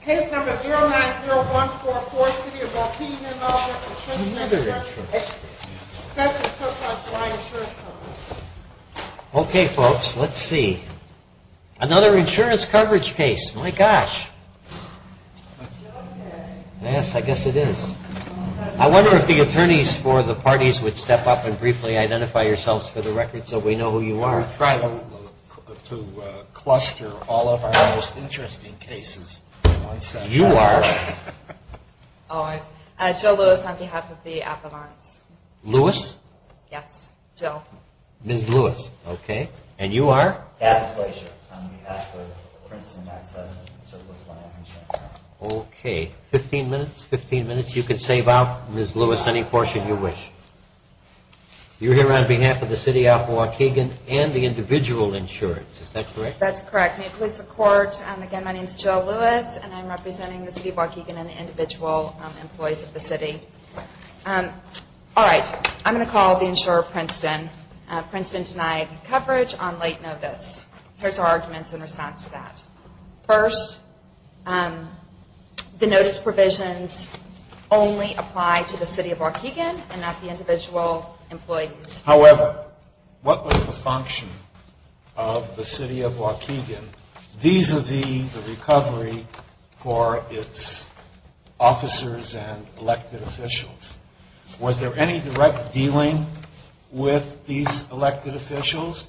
Case number 090144C of Waukegan v. Princeton Excess and Surplus Line Insurance Company You are? Jill Lewis on behalf of the Appellants. Lewis? Yes, Jill. Ms. Lewis, okay. And you are? Adam Fleischer on behalf of Princeton Excess and Surplus Line Insurance Company. Okay, 15 minutes, 15 minutes. You can save up, Ms. Lewis, any portion you wish. You're here on behalf of the City of Waukegan and the Individual Insurance, is that correct? That's correct. May it please the Court, again, my name is Jill Lewis, and I'm representing the City of Waukegan and the individual employees of the city. All right, I'm going to call the insurer Princeton. Princeton denied coverage on late notice. Here's our arguments in response to that. First, the notice provisions only apply to the City of Waukegan and not the individual employees. However, what was the function of the City of Waukegan vis-à-vis the recovery for its officers and elected officials? Was there any direct dealing with these elected officials?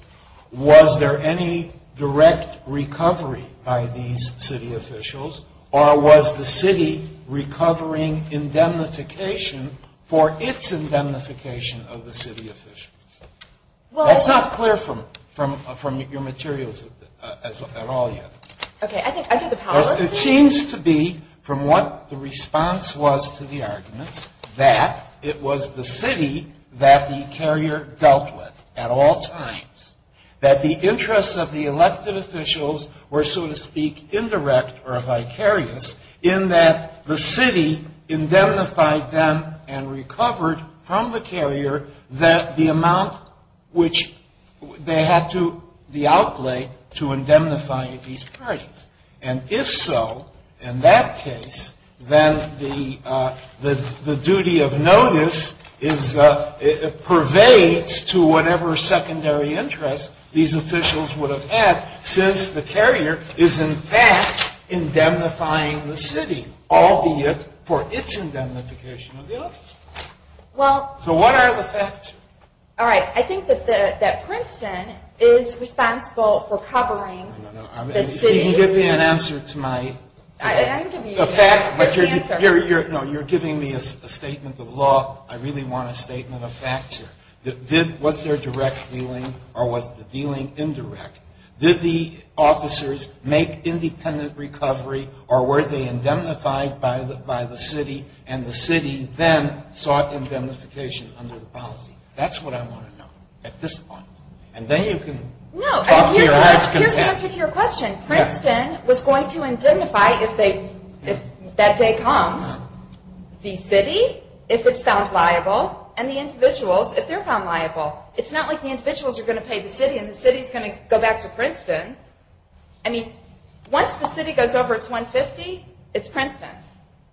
Was there any direct recovery by these city officials? Or was the city recovering indemnification for its indemnification of the city officials? That's not clear from your materials at all yet. Okay, I think I do the power list. It seems to be, from what the response was to the arguments, that it was the city that the carrier dealt with at all times. That the interests of the elected officials were, so to speak, indirect or vicarious, in that the city indemnified them and recovered from the carrier the amount which they had to outlay to indemnify these parties. And if so, in that case, then the duty of notice pervades to whatever secondary interest these officials would have had since the carrier is, in fact, indemnifying the city, albeit for its indemnification of the elected officials. So what are the factors? All right, I think that Princeton is responsible for covering the city. If you can give me an answer to my... I can give you an answer. No, you're giving me a statement of law. I really want a statement of facts here. Was there direct dealing or was the dealing indirect? Did the officers make independent recovery or were they indemnified by the city? And the city then sought indemnification under the policy. That's what I want to know at this point. And then you can talk to your heart's content. Here's the answer to your question. Princeton was going to indemnify, if that day comes, the city, if it's found liable, and the individuals, if they're found liable. It's not like the individuals are going to pay the city and the city is going to go back to Princeton. I mean, once the city goes over its 150, it's Princeton.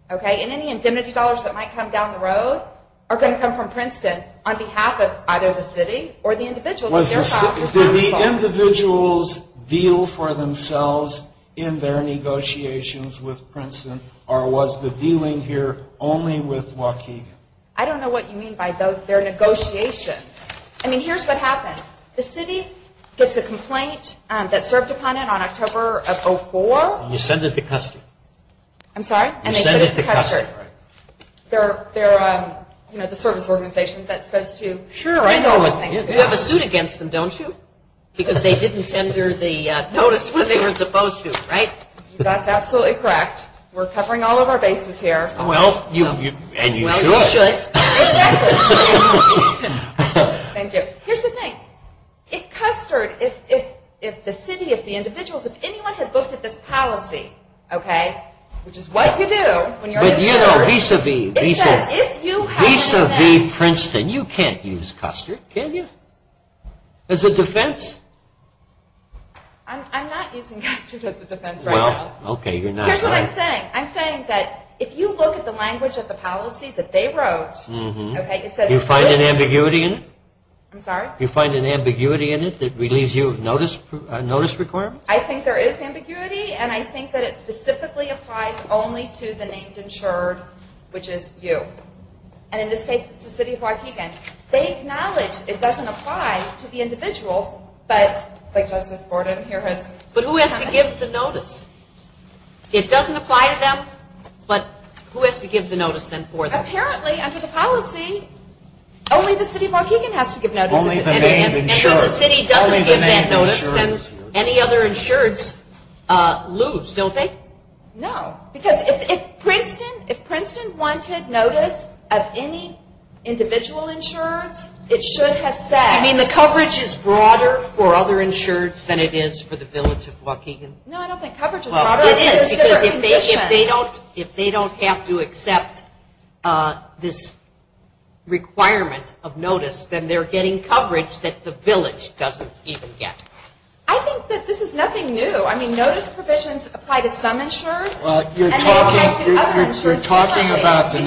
Okay? And any indemnity dollars that might come down the road are going to come from Princeton on behalf of either the city or the individuals. Did the individuals deal for themselves in their negotiations with Princeton or was the dealing here only with Waukegan? I don't know what you mean by those. They're negotiations. I mean, here's what happens. The city gets a complaint that served upon it on October of 2004. And you send it to custody. I'm sorry? You send it to custody. And they put it to Custard. They're, you know, the service organization that's supposed to handle those things. Sure, I know. You have a suit against them, don't you? Because they didn't tender the notice when they were supposed to, right? That's absolutely correct. We're covering all of our bases here. Well, you should. Exactly. Thank you. Here's the thing. If Custard, if the city, if the individuals, if anyone had looked at this policy, okay, which is what you do when you're in charge. But, you know, vis-a-vis, vis-a-vis Princeton, you can't use Custard, can you? As a defense? I'm not using Custard as a defense right now. Well, okay, you're not. Here's what I'm saying. I'm saying that if you look at the language of the policy that they wrote, okay, it says it's good. Do you find an ambiguity in it? I'm sorry? Do you find an ambiguity in it that leaves you notice requirements? I think there is ambiguity, and I think that it specifically applies only to the named insured, which is you. And in this case, it's the city of Waukegan. They acknowledge it doesn't apply to the individuals, but, like Justice Borden here has commented. But who has to give the notice? It doesn't apply to them, but who has to give the notice then for them? Apparently, under the policy, only the city of Waukegan has to give notice. Only the named insured. And if the city doesn't give that notice, then any other insureds lose, don't they? No, because if Princeton wanted notice of any individual insureds, it should have said. You mean the coverage is broader for other insureds than it is for the village of Waukegan? No, I don't think coverage is broader. It is, because if they don't have to accept this requirement of notice, then they're getting coverage that the village doesn't even get. I think that this is nothing new. I mean, notice provisions apply to some insureds, and they apply to other insureds. You're talking about the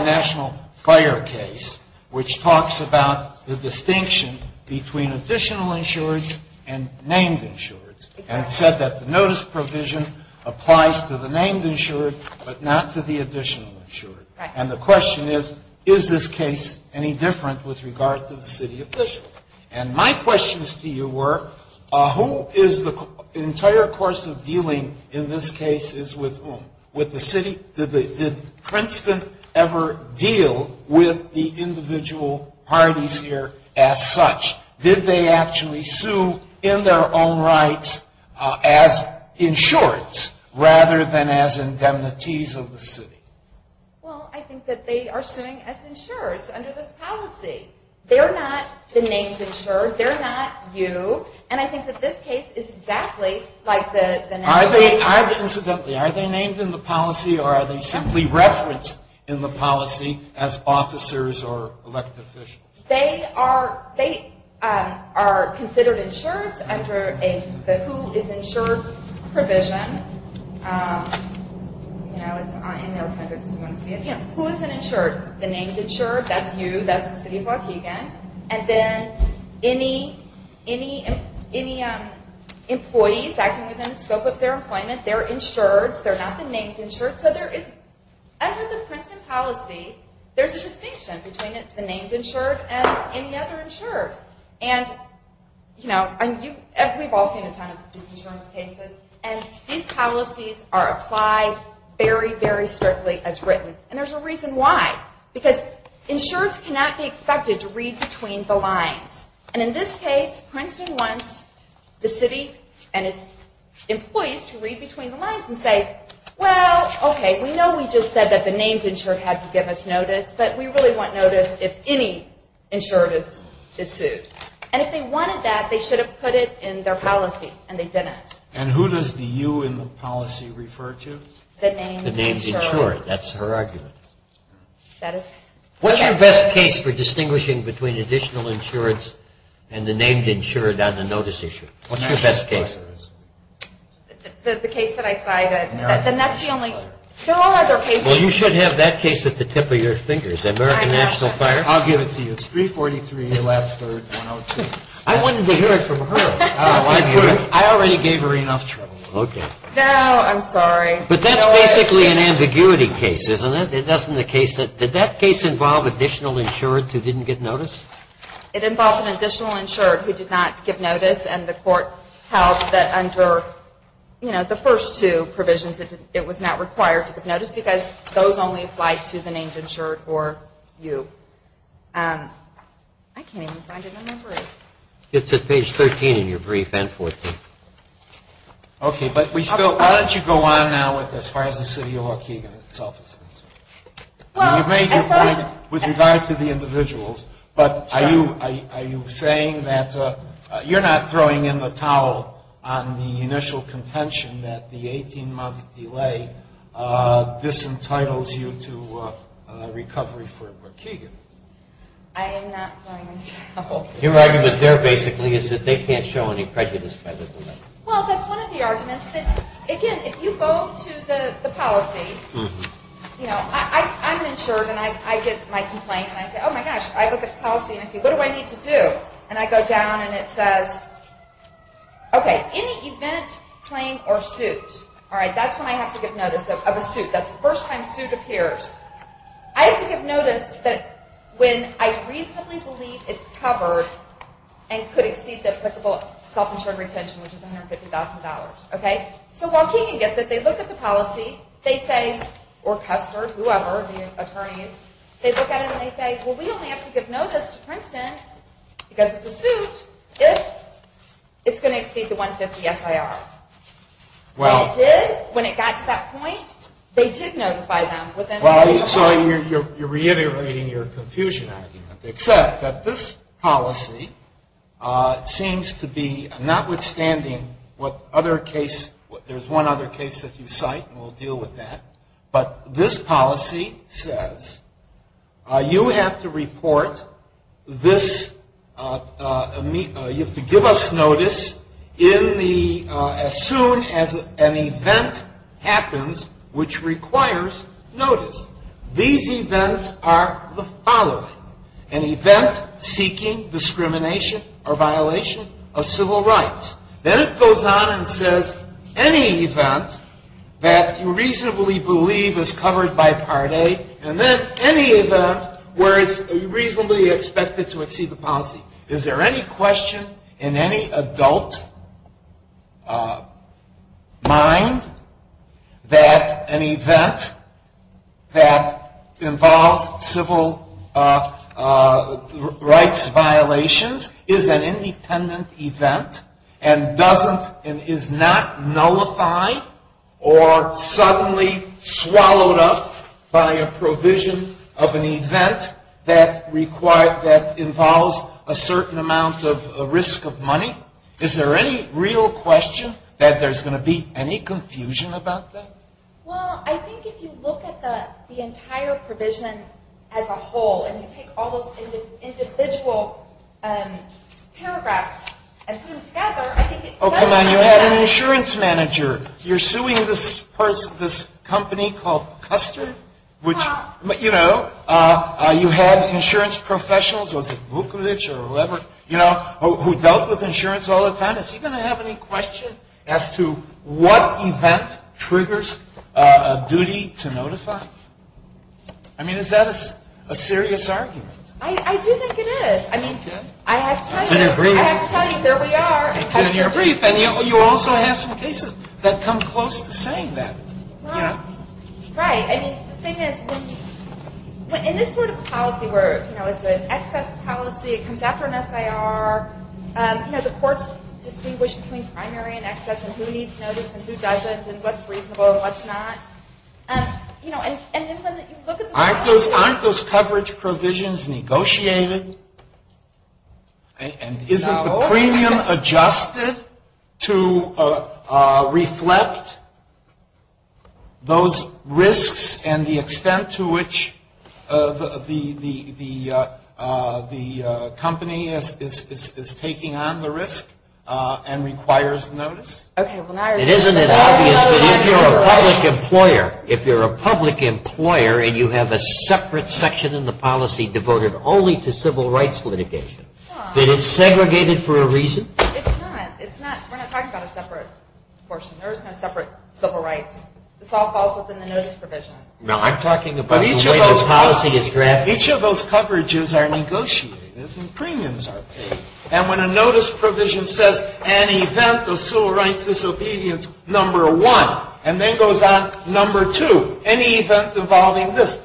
national fire case, which talks about the distinction between additional insureds and named insureds, and said that the notice provision applies to the named insured, but not to the additional insured. And the question is, is this case any different with regard to the city officials? And my questions to you were, who is the entire course of dealing in this case is with whom? With the city? Did Princeton ever deal with the individual parties here as such? Did they actually sue in their own rights as insureds rather than as indemnities of the city? Well, I think that they are suing as insureds under this policy. They're not the named insured. They're not you. And I think that this case is exactly like the national case. Incidentally, are they named in the policy, or are they simply referenced in the policy as officers or elected officials? They are considered insureds under the who is insured provision. Who is an insured? The named insured, that's you, that's the city of Waukegan. And then any employees acting within the scope of their employment, they're insureds. They're not the named insured. Under the Princeton policy, there's a distinction between the named insured and any other insured. And we've all seen a ton of insurance cases. And these policies are applied very, very strictly as written. And there's a reason why. Because insureds cannot be expected to read between the lines. And in this case, Princeton wants the city and its employees to read between the lines and say, well, okay, we know we just said that the named insured had to give us notice, but we really want notice if any insured is sued. And if they wanted that, they should have put it in their policy, and they didn't. And who does the you in the policy refer to? The named insured. The named insured, that's her argument. What's your best case for distinguishing between additional insurance and the named insured on the notice issue? What's your best case? The case that I cited. Then that's the only. There are other cases. Well, you should have that case at the tip of your fingers, American National Fire. I'll give it to you. It's 343 Elapsford 102. I wanted to hear it from her. I already gave her enough trouble. Okay. No, I'm sorry. But that's basically an ambiguity case, isn't it? That's not the case. Did that case involve additional insured who didn't get notice? It involved an additional insured who did not get notice, and the court held that under the first two provisions it was not required to get notice because those only applied to the named insured or you. I can't even find it in my memory. It's at page 13 in your brief and 14. Okay. But we still – why don't you go on now with as far as the city of Waukegan itself is concerned? Well, as far as – You're throwing in the towel on the initial contention that the 18-month delay, this entitles you to recovery for Waukegan. I am not throwing in the towel. Your argument there basically is that they can't show any prejudice by the delay. Well, that's one of the arguments. Again, if you go to the policy, you know, I'm an insured and I get my complaint and I say, oh, my gosh, I look at the policy and I say, what do I need to do? And I go down and it says, okay, any event, claim, or suit, all right, that's when I have to give notice of a suit. That's the first time suit appears. I have to give notice that when I reasonably believe it's covered and could exceed the applicable self-insured retention, which is $150,000, okay? So Waukegan gets it. They look at the policy. They say, or Custer, whoever, the attorneys, they look at it and they say, well, we only have to give notice to Princeton because it's a suit if it's going to exceed the $150,000 SIR. When it did, when it got to that point, they did notify them. So you're reiterating your confusion argument, except that this policy seems to be, notwithstanding what other case, there's one other case that you cite and we'll deal with that, but this policy says you have to report this, you have to give us notice in the, as soon as an event happens which requires notice. These events are the following, an event seeking discrimination or violation of civil rights. Then it goes on and says any event that you reasonably believe is covered by Part A and then any event where it's reasonably expected to exceed the policy. Is there any question in any adult mind that an event that involves civil rights violations is an independent event and doesn't, and is not nullified or suddenly swallowed up by a provision of an event that requires, that involves a certain amount of risk of money? Is there any real question that there's going to be any confusion about that? Well, I think if you look at the entire provision as a whole and you take all those individual paragraphs and put them together, I think it does make sense. Oh, come on, you had an insurance manager. You're suing this person, this company called Custard, which, you know, you had insurance professionals, was it Vukovic or whoever, you know, who dealt with insurance all the time. Is he going to have any question as to what event triggers a duty to notify? I mean, is that a serious argument? I do think it is. Okay. I have to tell you. It's in your brief. I have to tell you. There we are. It's in your brief. And you also have some cases that come close to saying that. Right. I mean, the thing is, in this sort of policy where, you know, it's an excess policy, it comes after an SIR, you know, the courts distinguish between primary and excess and who needs notice and who doesn't and what's reasonable and what's not. You know, and if you look at the policy. Aren't those coverage provisions negotiated? And isn't the premium adjusted to reflect those risks and the extent to which the company is taking on the risk and requires notice? Isn't it obvious that if you're a public employer, if you're a public employer and you have a separate section in the policy devoted only to civil rights litigation, that it's segregated for a reason? It's not. We're not talking about a separate portion. There is no separate civil rights. This all falls within the notice provision. No, I'm talking about the way the policy is drafted. Each of those coverages are negotiated and premiums are paid. And when a notice provision says, an event of civil rights disobedience, number one, and then goes on number two, any event involving this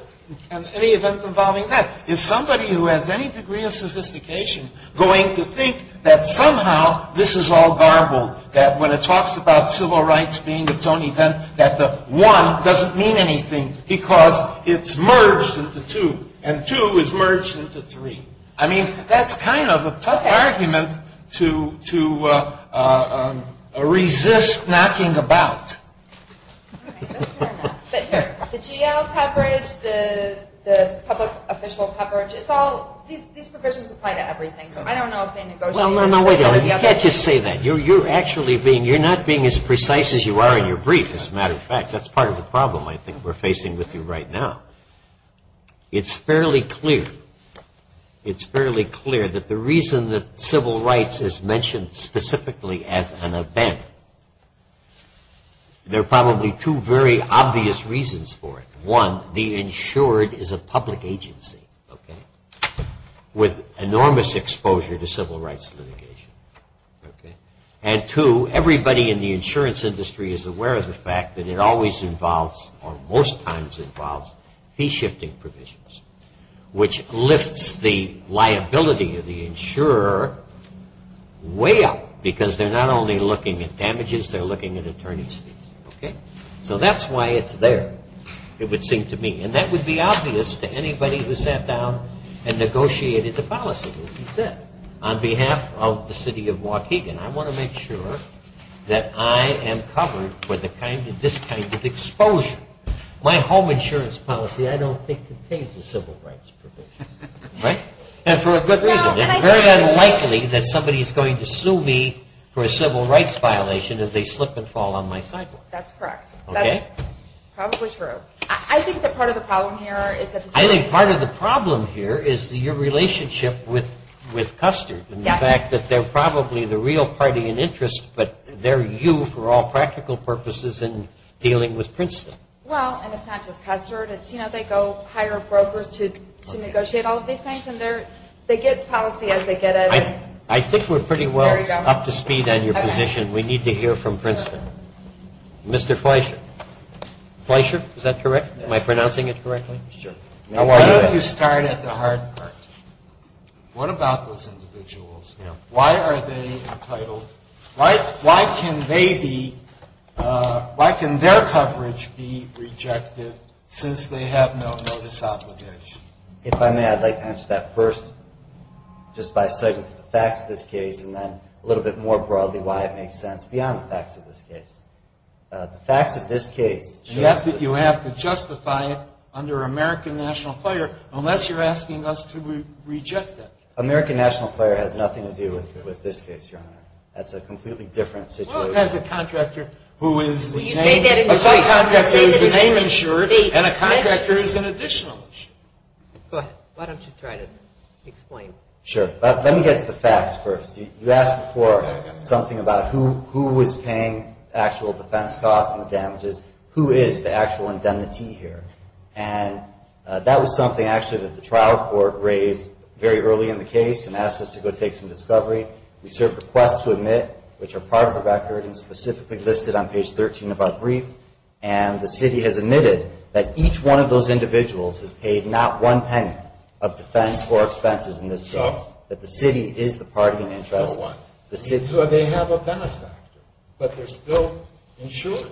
and any event involving that, is somebody who has any degree of sophistication going to think that somehow this is all garbled, that when it talks about civil rights being its own event, that the one doesn't mean anything because it's merged into two and two is merged into three. I mean, that's kind of a tough argument to resist knocking about. The GL coverage, the public official coverage, these provisions apply to everything. So I don't know if they negotiate. You can't just say that. You're not being as precise as you are in your brief, as a matter of fact. That's part of the problem I think we're facing with you right now. It's fairly clear that the reason that civil rights is mentioned specifically as an event, there are probably two very obvious reasons for it. One, the insured is a public agency with enormous exposure to civil rights litigation. And two, everybody in the insurance industry is aware of the fact that it always involves or most times involves fee-shifting provisions, which lifts the liability of the insurer way up because they're not only looking at damages, they're looking at attorney fees. Okay? So that's why it's there, it would seem to me. And that would be obvious to anybody who sat down and negotiated the policy, as you said. On behalf of the city of Waukegan, I want to make sure that I am covered for this kind of exposure. My home insurance policy, I don't think, contains a civil rights provision. Right? And for a good reason. It's very unlikely that somebody is going to sue me for a civil rights violation if they slip and fall on my sidewalk. That's correct. Okay? That's probably true. I think that part of the problem here is that the city… I think part of the problem here is your relationship with Custard and the fact that they're probably the real party in interest, but they're you for all practical purposes in dealing with Princeton. Well, and it's not just Custard. It's, you know, they go hire brokers to negotiate all of these things, and they get policy as they get it. I think we're pretty well up to speed on your position. We need to hear from Princeton. Mr. Fleischer. Fleischer, is that correct? Am I pronouncing it correctly? Sure. Why don't you start at the hard part? What about those individuals? Why are they entitled… Why can they be… Why can their coverage be rejected since they have no notice obligation? If I may, I'd like to answer that first just by citing the facts of this case and then a little bit more broadly why it makes sense beyond the facts of this case. The facts of this case… Yes, but you have to justify it under American national fire unless you're asking us to reject it. American national fire has nothing to do with this case, Your Honor. That's a completely different situation. Well, it has a contractor who is… Well, you say that… A subcontractor is the name insured, and a contractor is an additional issue. Go ahead. Why don't you try to explain? Sure. Let me get to the facts first. You asked before something about who was paying actual defense costs and the damages. Who is the actual indemnity here? That was something, actually, that the trial court raised very early in the case and asked us to go take some discovery. We served requests to admit, which are part of the record and specifically listed on page 13 of our brief, and the city has admitted that each one of those individuals has paid not one penny of defense for expenses in this case, that the city is the party in interest. So what? So they have a benefactor, but they're still insured.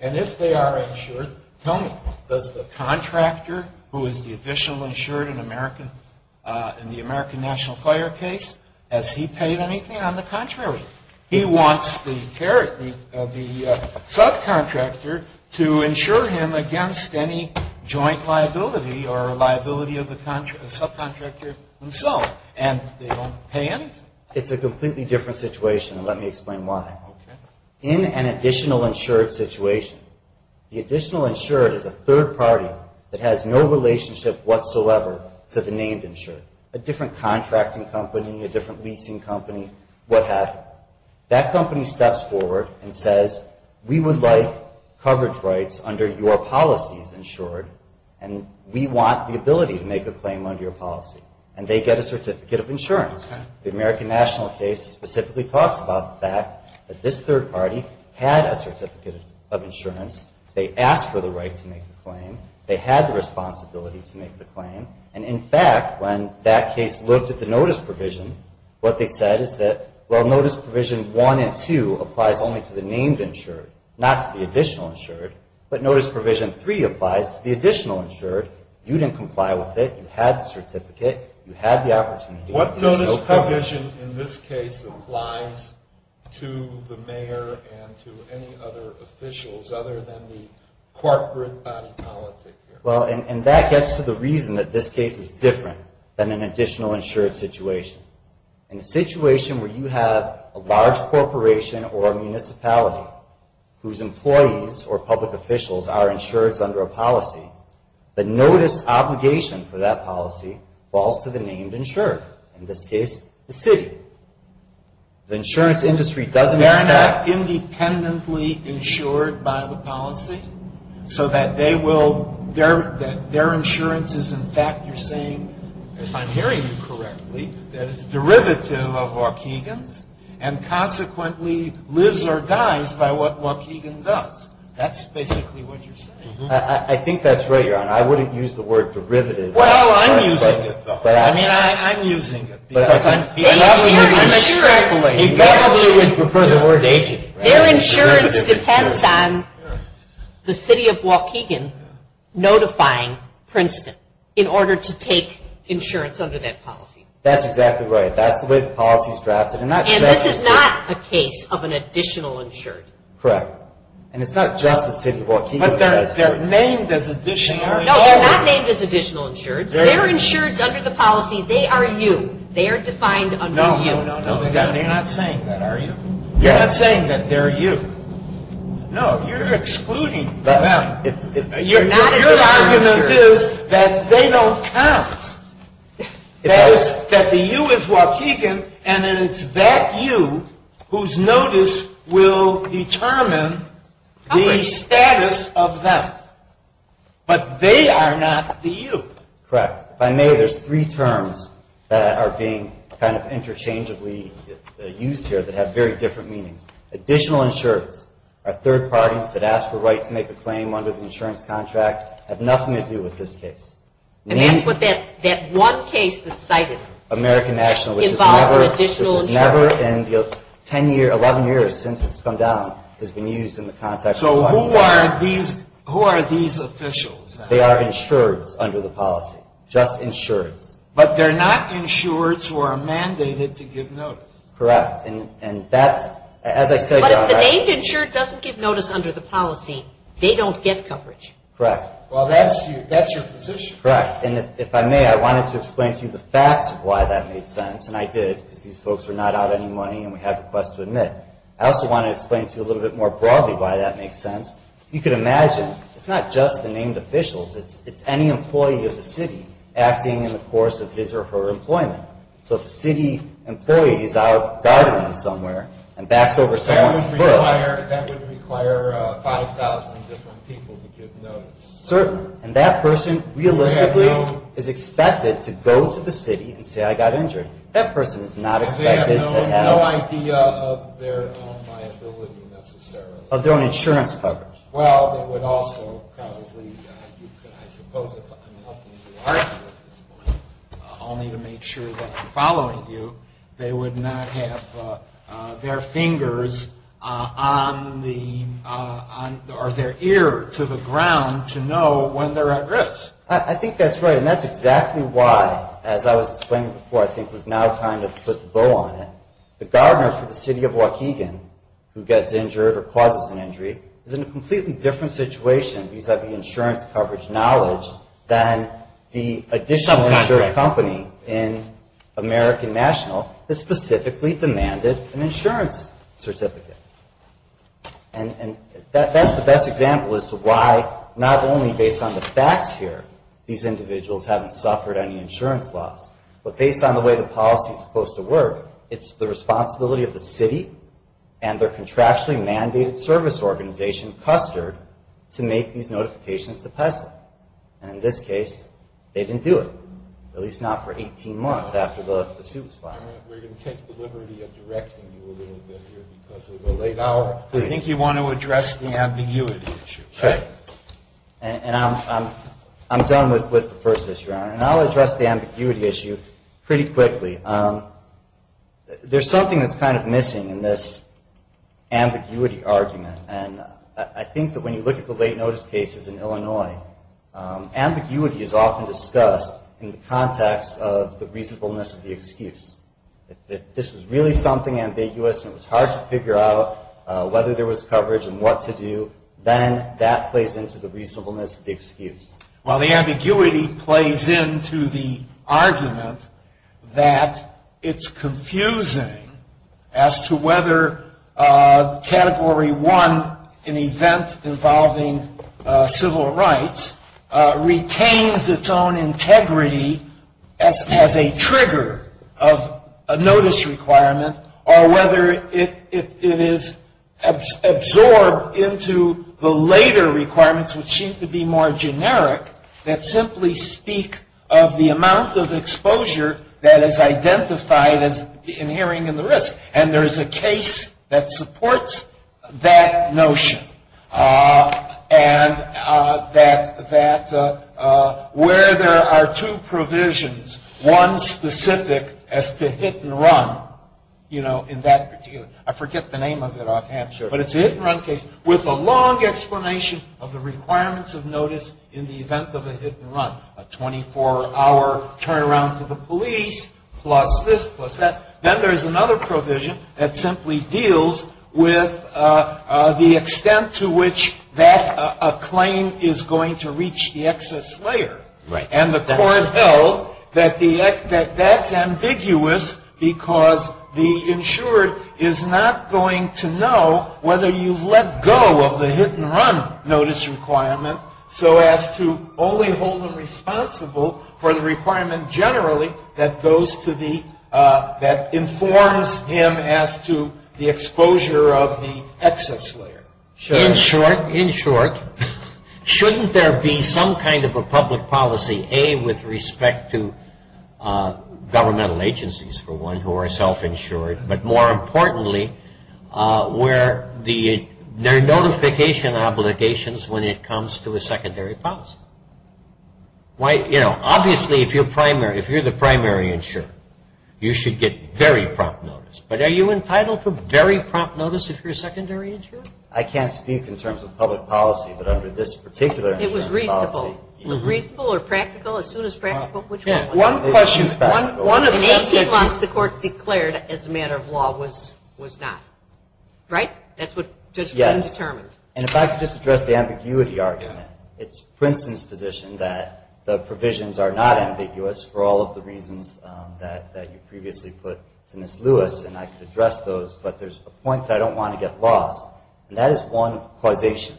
And if they are insured, tell me, does the contractor, who is the official insured in the American National Fire case, has he paid anything? On the contrary. He wants the subcontractor to insure him against any joint liability or liability of the subcontractor themselves, and they don't pay anything. It's a completely different situation, and let me explain why. Okay. Given an additional insured situation, the additional insured is a third party that has no relationship whatsoever to the named insured. A different contracting company, a different leasing company, what happened? That company steps forward and says, we would like coverage rights under your policies insured, and we want the ability to make a claim under your policy. And they get a certificate of insurance. The American National case specifically talks about the fact that this third party had a certificate of insurance. They asked for the right to make the claim. They had the responsibility to make the claim. And, in fact, when that case looked at the notice provision, what they said is that, well, notice provision 1 and 2 applies only to the named insured, not to the additional insured. But notice provision 3 applies to the additional insured. You didn't comply with it. You had the certificate. You had the opportunity. What notice provision in this case applies to the mayor and to any other officials other than the corporate body politic here? Well, and that gets to the reason that this case is different than an additional insured situation. In a situation where you have a large corporation or a municipality whose employees or public officials are insureds under a policy, the notice obligation for that policy falls to the named insured, in this case the city. The insurance industry doesn't act independently insured by the policy so that their insurance is, in fact, you're saying, if I'm hearing you correctly, that it's derivative of Waukegan's and consequently lives or dies by what Waukegan does. That's basically what you're saying. I think that's right, Your Honor. I wouldn't use the word derivative. Well, I'm using it, though. I mean, I'm using it. I'm sure I believe you. The government would prefer the word agent. Their insurance depends on the city of Waukegan notifying Princeton in order to take insurance under that policy. That's exactly right. That's the way the policy is drafted. And this is not a case of an additional insured. Correct. And it's not just the city of Waukegan. But they're named as additional insured. No, they're not named as additional insured. They're insured under the policy. They are you. They are defined under you. No, Your Honor, you're not saying that, are you? You're not saying that they're you. No, you're excluding them. Your argument is that they don't count. That is, that the you is Waukegan, and then it's that you whose notice will determine the status of them. But they are not the you. Correct. If I may, there's three terms that are being kind of interchangeably used here that have very different meanings. Additional insureds are third parties that ask for a right to make a claim under the insurance contract, have nothing to do with this case. And that's what that one case that's cited. American National, which is never in the 10 years, 11 years since it's come down has been used in the context of Waukegan. So who are these officials? They are insureds under the policy, just insureds. But they're not insureds who are mandated to give notice. Correct. And that's, as I said, Your Honor. But if the name insured doesn't give notice under the policy, they don't get coverage. Correct. Well, that's your position. Correct. And if I may, I wanted to explain to you the facts of why that made sense, and I did because these folks are not out of any money and we have requests to admit. I also wanted to explain to you a little bit more broadly why that makes sense. You could imagine it's not just the named officials. It's any employee of the city acting in the course of his or her employment. So if a city employee is out guarding them somewhere and backs over someone's foot. That would require 5,000 different people to give notice. Certainly. And that person realistically is expected to go to the city and say, I got injured. That person is not expected to have. Because they have no idea of their own viability necessarily. Of their own insurance coverage. Well, they would also probably, I suppose if I'm helping you argue at this point, only to make sure that I'm following you, they would not have their fingers on the, or their ear to the ground to know when they're at risk. I think that's right, and that's exactly why, as I was explaining before, I think we've now kind of put the bow on it. The gardener for the city of Waukegan who gets injured or causes an injury, is in a completely different situation because of the insurance coverage knowledge than the additional insurance company in American National that specifically demanded an insurance certificate. And that's the best example as to why, not only based on the facts here, these individuals haven't suffered any insurance loss, but based on the way the policy is supposed to work, it's the responsibility of the city and their contractually mandated service organization, Custard, to make these notifications to PESA. And in this case, they didn't do it, at least not for 18 months after the suit was filed. We're going to take the liberty of directing you a little bit here because of the late hour. Please. I think you want to address the ambiguity issue. Sure. And I'm done with the first issue, Your Honor. And I'll address the ambiguity issue pretty quickly. There's something that's kind of missing in this ambiguity argument. And I think that when you look at the late notice cases in Illinois, ambiguity is often discussed in the context of the reasonableness of the excuse. If this was really something ambiguous and it was hard to figure out whether there was coverage and what to do, then that plays into the reasonableness of the excuse. Well, the ambiguity plays into the argument that it's confusing as to whether Category 1, an event involving civil rights, retains its own integrity as a trigger of a notice requirement or whether it is absorbed into the later requirements, which seem to be more generic, that simply speak of the amount of exposure that is identified as inhering in the risk. And there is a case that supports that notion and that where there are two provisions, one specific as to hit-and-run, you know, in that particular – I forget the name of it offhand. Sure. But it's a hit-and-run case with a long explanation of the requirements of notice in the event of a hit-and-run, a 24-hour turnaround to the police plus this, plus that. Then there's another provision that simply deals with the extent to which that claim is going to reach the excess layer. Right. And the court held that that's ambiguous because the insured is not going to know whether you've let go of the hit-and-run notice requirement, so as to only hold them responsible for the requirement generally that goes to the – that informs him as to the exposure of the excess layer. Sure. In short, in short, shouldn't there be some kind of a public policy, A, with respect to governmental agencies, for one, who are self-insured, but more importantly, where there are notification obligations when it comes to a secondary policy? Why, you know, obviously if you're primary – if you're the primary insurer, you should get very prompt notice, but are you entitled to very prompt notice if you're a secondary insurer? I can't speak in terms of public policy, but under this particular insurance policy – It was reasonable. Reasonable or practical? As soon as practical, which one was it? One question – In 18 months, the court declared as a matter of law was not. Right? That's what the judge determined. Yes. And if I could just address the ambiguity argument, it's Princeton's position that the provisions are not ambiguous for all of the reasons that you previously put to Ms. Lewis, and I could address those, but there's a point that I don't want to get lost, and that is one causation.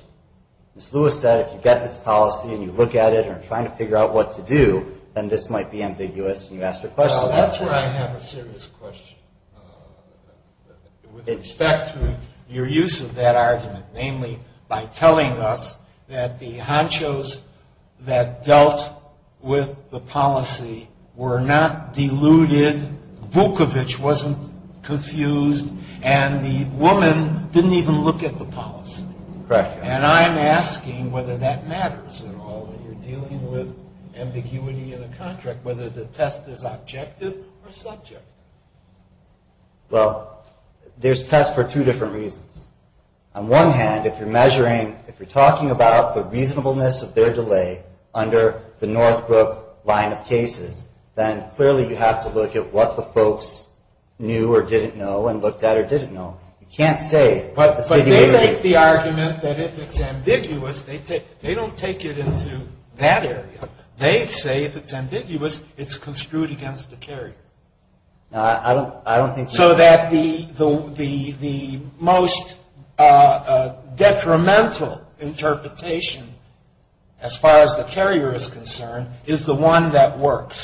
Ms. Lewis said if you get this policy and you look at it and are trying to figure out what to do, then this might be ambiguous, and you asked her question. Well, that's where I have a serious question, with respect to your use of that argument, namely by telling us that the honchos that dealt with the policy were not deluded. And Vukovic wasn't confused, and the woman didn't even look at the policy. Correct. And I'm asking whether that matters at all when you're dealing with ambiguity in a contract, whether the test is objective or subjective. Well, there's tests for two different reasons. On one hand, if you're measuring – if you're talking about the reasonableness of their delay under the Northbrook line of cases, then clearly you have to look at what the folks knew or didn't know and looked at or didn't know. You can't say the situation – But they make the argument that if it's ambiguous, they don't take it into that area. They say if it's ambiguous, it's construed against the carrier. No, I don't think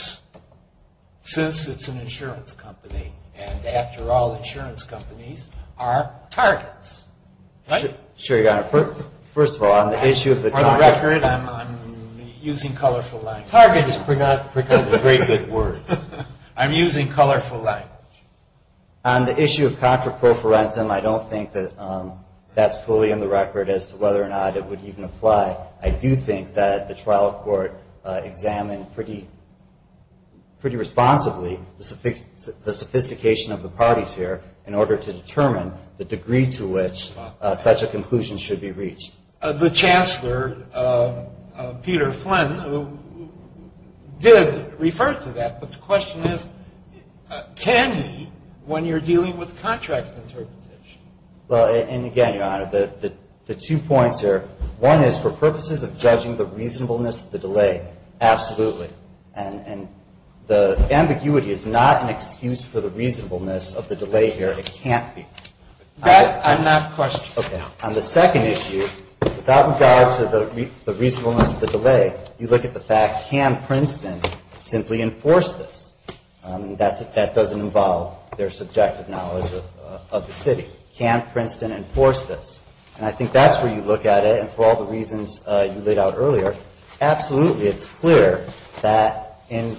– since it's an insurance company, and after all, insurance companies are targets. Right? Sure, Your Honor. First of all, on the issue of the – For the record, I'm using colorful language. Target has become a very good word. I'm using colorful language. On the issue of contra pro forensum, I don't think that that's fully in the record as to whether or not it would even apply. I do think that the trial court examined pretty responsibly the sophistication of the parties here in order to determine the degree to which such a conclusion should be reached. The Chancellor, Peter Flynn, did refer to that. But the question is, can he when you're dealing with contract interpretation? Well, and again, Your Honor, the two points here – one is for purposes of judging the reasonableness of the delay, absolutely. And the ambiguity is not an excuse for the reasonableness of the delay here. It can't be. On that question. Okay. On the second issue, without regard to the reasonableness of the delay, you look at the fact, can Princeton simply enforce this? That doesn't involve their subjective knowledge of the city. Can Princeton enforce this? And I think that's where you look at it, and for all the reasons you laid out earlier, absolutely. It's clear that in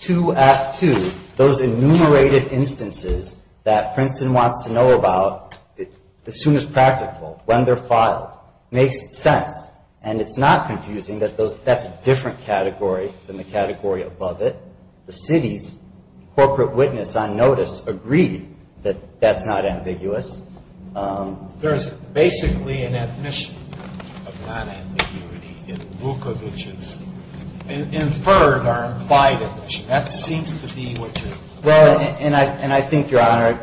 2F2, those enumerated instances that Princeton wants to know about as soon as practical, when they're filed, makes sense. And it's not confusing that that's a different category than the category above it. The city's corporate witness on notice agreed that that's not ambiguous. There's basically an admission of non-ambiguity in Vukovic's inferred or implied admission. That seems to be what you're saying. Well, and I think, Your Honor,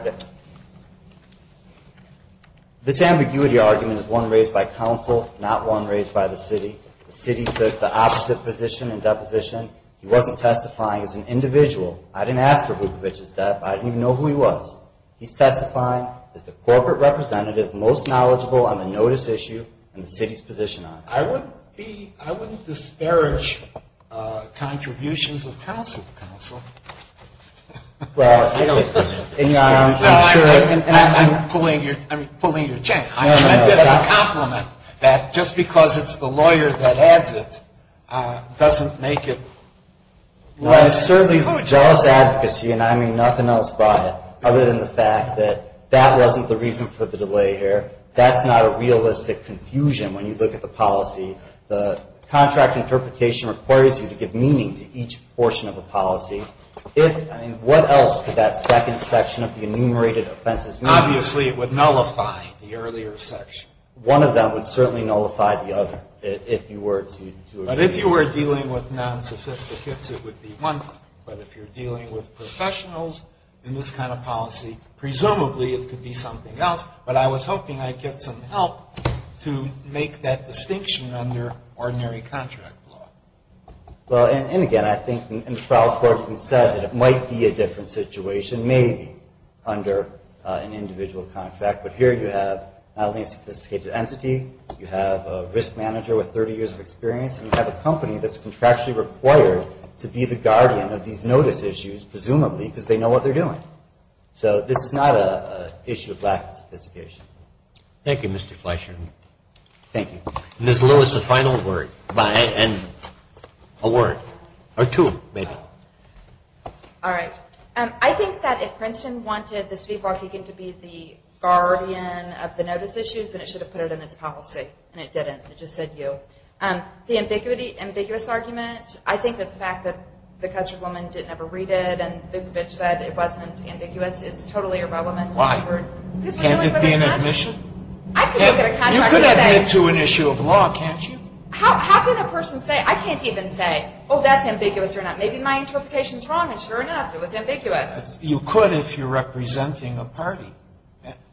this ambiguity argument is one raised by counsel, not one raised by the city. The city took the opposite position in deposition. He wasn't testifying as an individual. I didn't ask for Vukovic's death. I didn't even know who he was. He's testifying as the corporate representative most knowledgeable on the notice issue and the city's position on it. I wouldn't disparage contributions of counsel to counsel. Well, I don't agree with this. No, I'm pulling your chain. I meant it as a compliment that just because it's the lawyer that adds it doesn't make it less conclusive. Well, it certainly is a just advocacy, and I mean nothing else by it other than the fact that that wasn't the reason for the delay here. That's not a realistic confusion when you look at the policy. The contract interpretation requires you to give meaning to each portion of the policy. What else could that second section of the enumerated offenses mean? Obviously, it would nullify the earlier section. One of them would certainly nullify the other if you were to agree. But if you're dealing with professionals in this kind of policy, presumably it could be something else, but I was hoping I'd get some help to make that distinction under ordinary contract law. Well, and again, I think in the trial court you said that it might be a different situation, maybe under an individual contract, but here you have not only a sophisticated entity, you have a risk manager with 30 years of experience, and you have a company that's contractually required to be the guardian of these notice issues, presumably, because they know what they're doing. So this is not an issue of lack of sophistication. Thank you, Mr. Fleishman. Thank you. Ms. Lewis, a final word, and a word, or two, maybe. All right. I think that if Princeton wanted the city of Waukegan to be the guardian of the notice issues, then it should have put it in its policy, and it didn't. It just said you. The ambiguous argument, I think that the fact that the custard woman didn't ever read it and Bigovich said it wasn't ambiguous, it's totally irrelevant. Why? Can't it be an admission? You could admit to an issue of law, can't you? How can a person say, I can't even say, oh, that's ambiguous or not? Maybe my interpretation's wrong, and sure enough, it was ambiguous. You could if you're representing a party,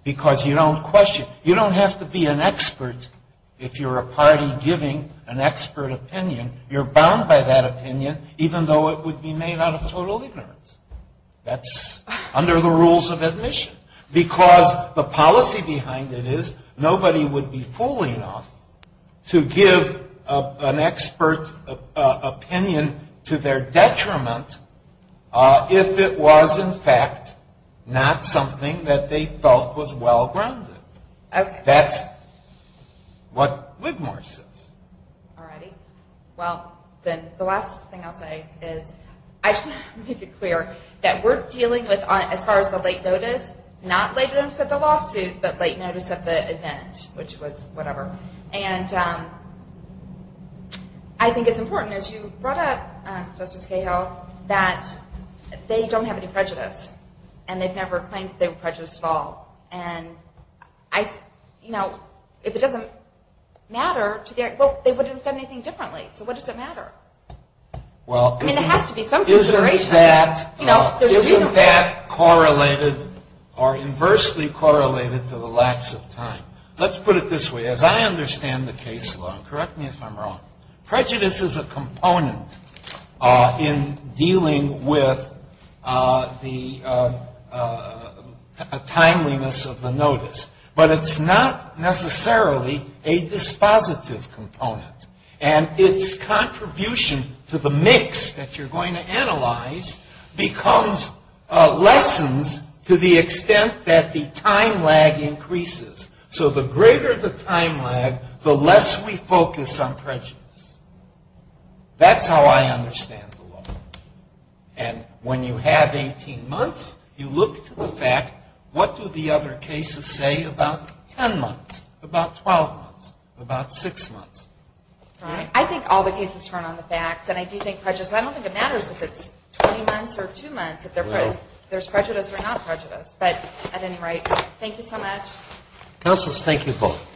because you don't question. If you're a party giving an expert opinion, you're bound by that opinion, even though it would be made out of total ignorance. That's under the rules of admission. Because the policy behind it is nobody would be fool enough to give an expert opinion to their detriment if it was, in fact, not something that they felt was well-grounded. That's what Wigmore says. All righty. Well, then the last thing I'll say is I just want to make it clear that we're dealing with, as far as the late notice, not late notice of the lawsuit, but late notice of the event, which was whatever. And I think it's important, as you brought up, Justice Cahill, that they don't have any prejudice, and they've never claimed that they were prejudiced at all. And, you know, if it doesn't matter, well, they wouldn't have done anything differently, so what does it matter? I mean, there has to be some consideration. Isn't that correlated or inversely correlated to the lax of time? Let's put it this way. As I understand the case law, and correct me if I'm wrong, prejudice is a component in dealing with the timeliness of the notice, but it's not necessarily a dispositive component. And its contribution to the mix that you're going to analyze becomes lessons to the extent that the time lag increases. So the greater the time lag, the less we focus on prejudice. That's how I understand the law. And when you have 18 months, you look to the fact, what do the other cases say about 10 months, about 12 months, about 6 months? Right. I think all the cases turn on the facts, and I do think prejudice, I don't think it matters if it's 20 months or 2 months, if there's prejudice or not prejudice. But at any rate, thank you so much. Counselors, thank you both.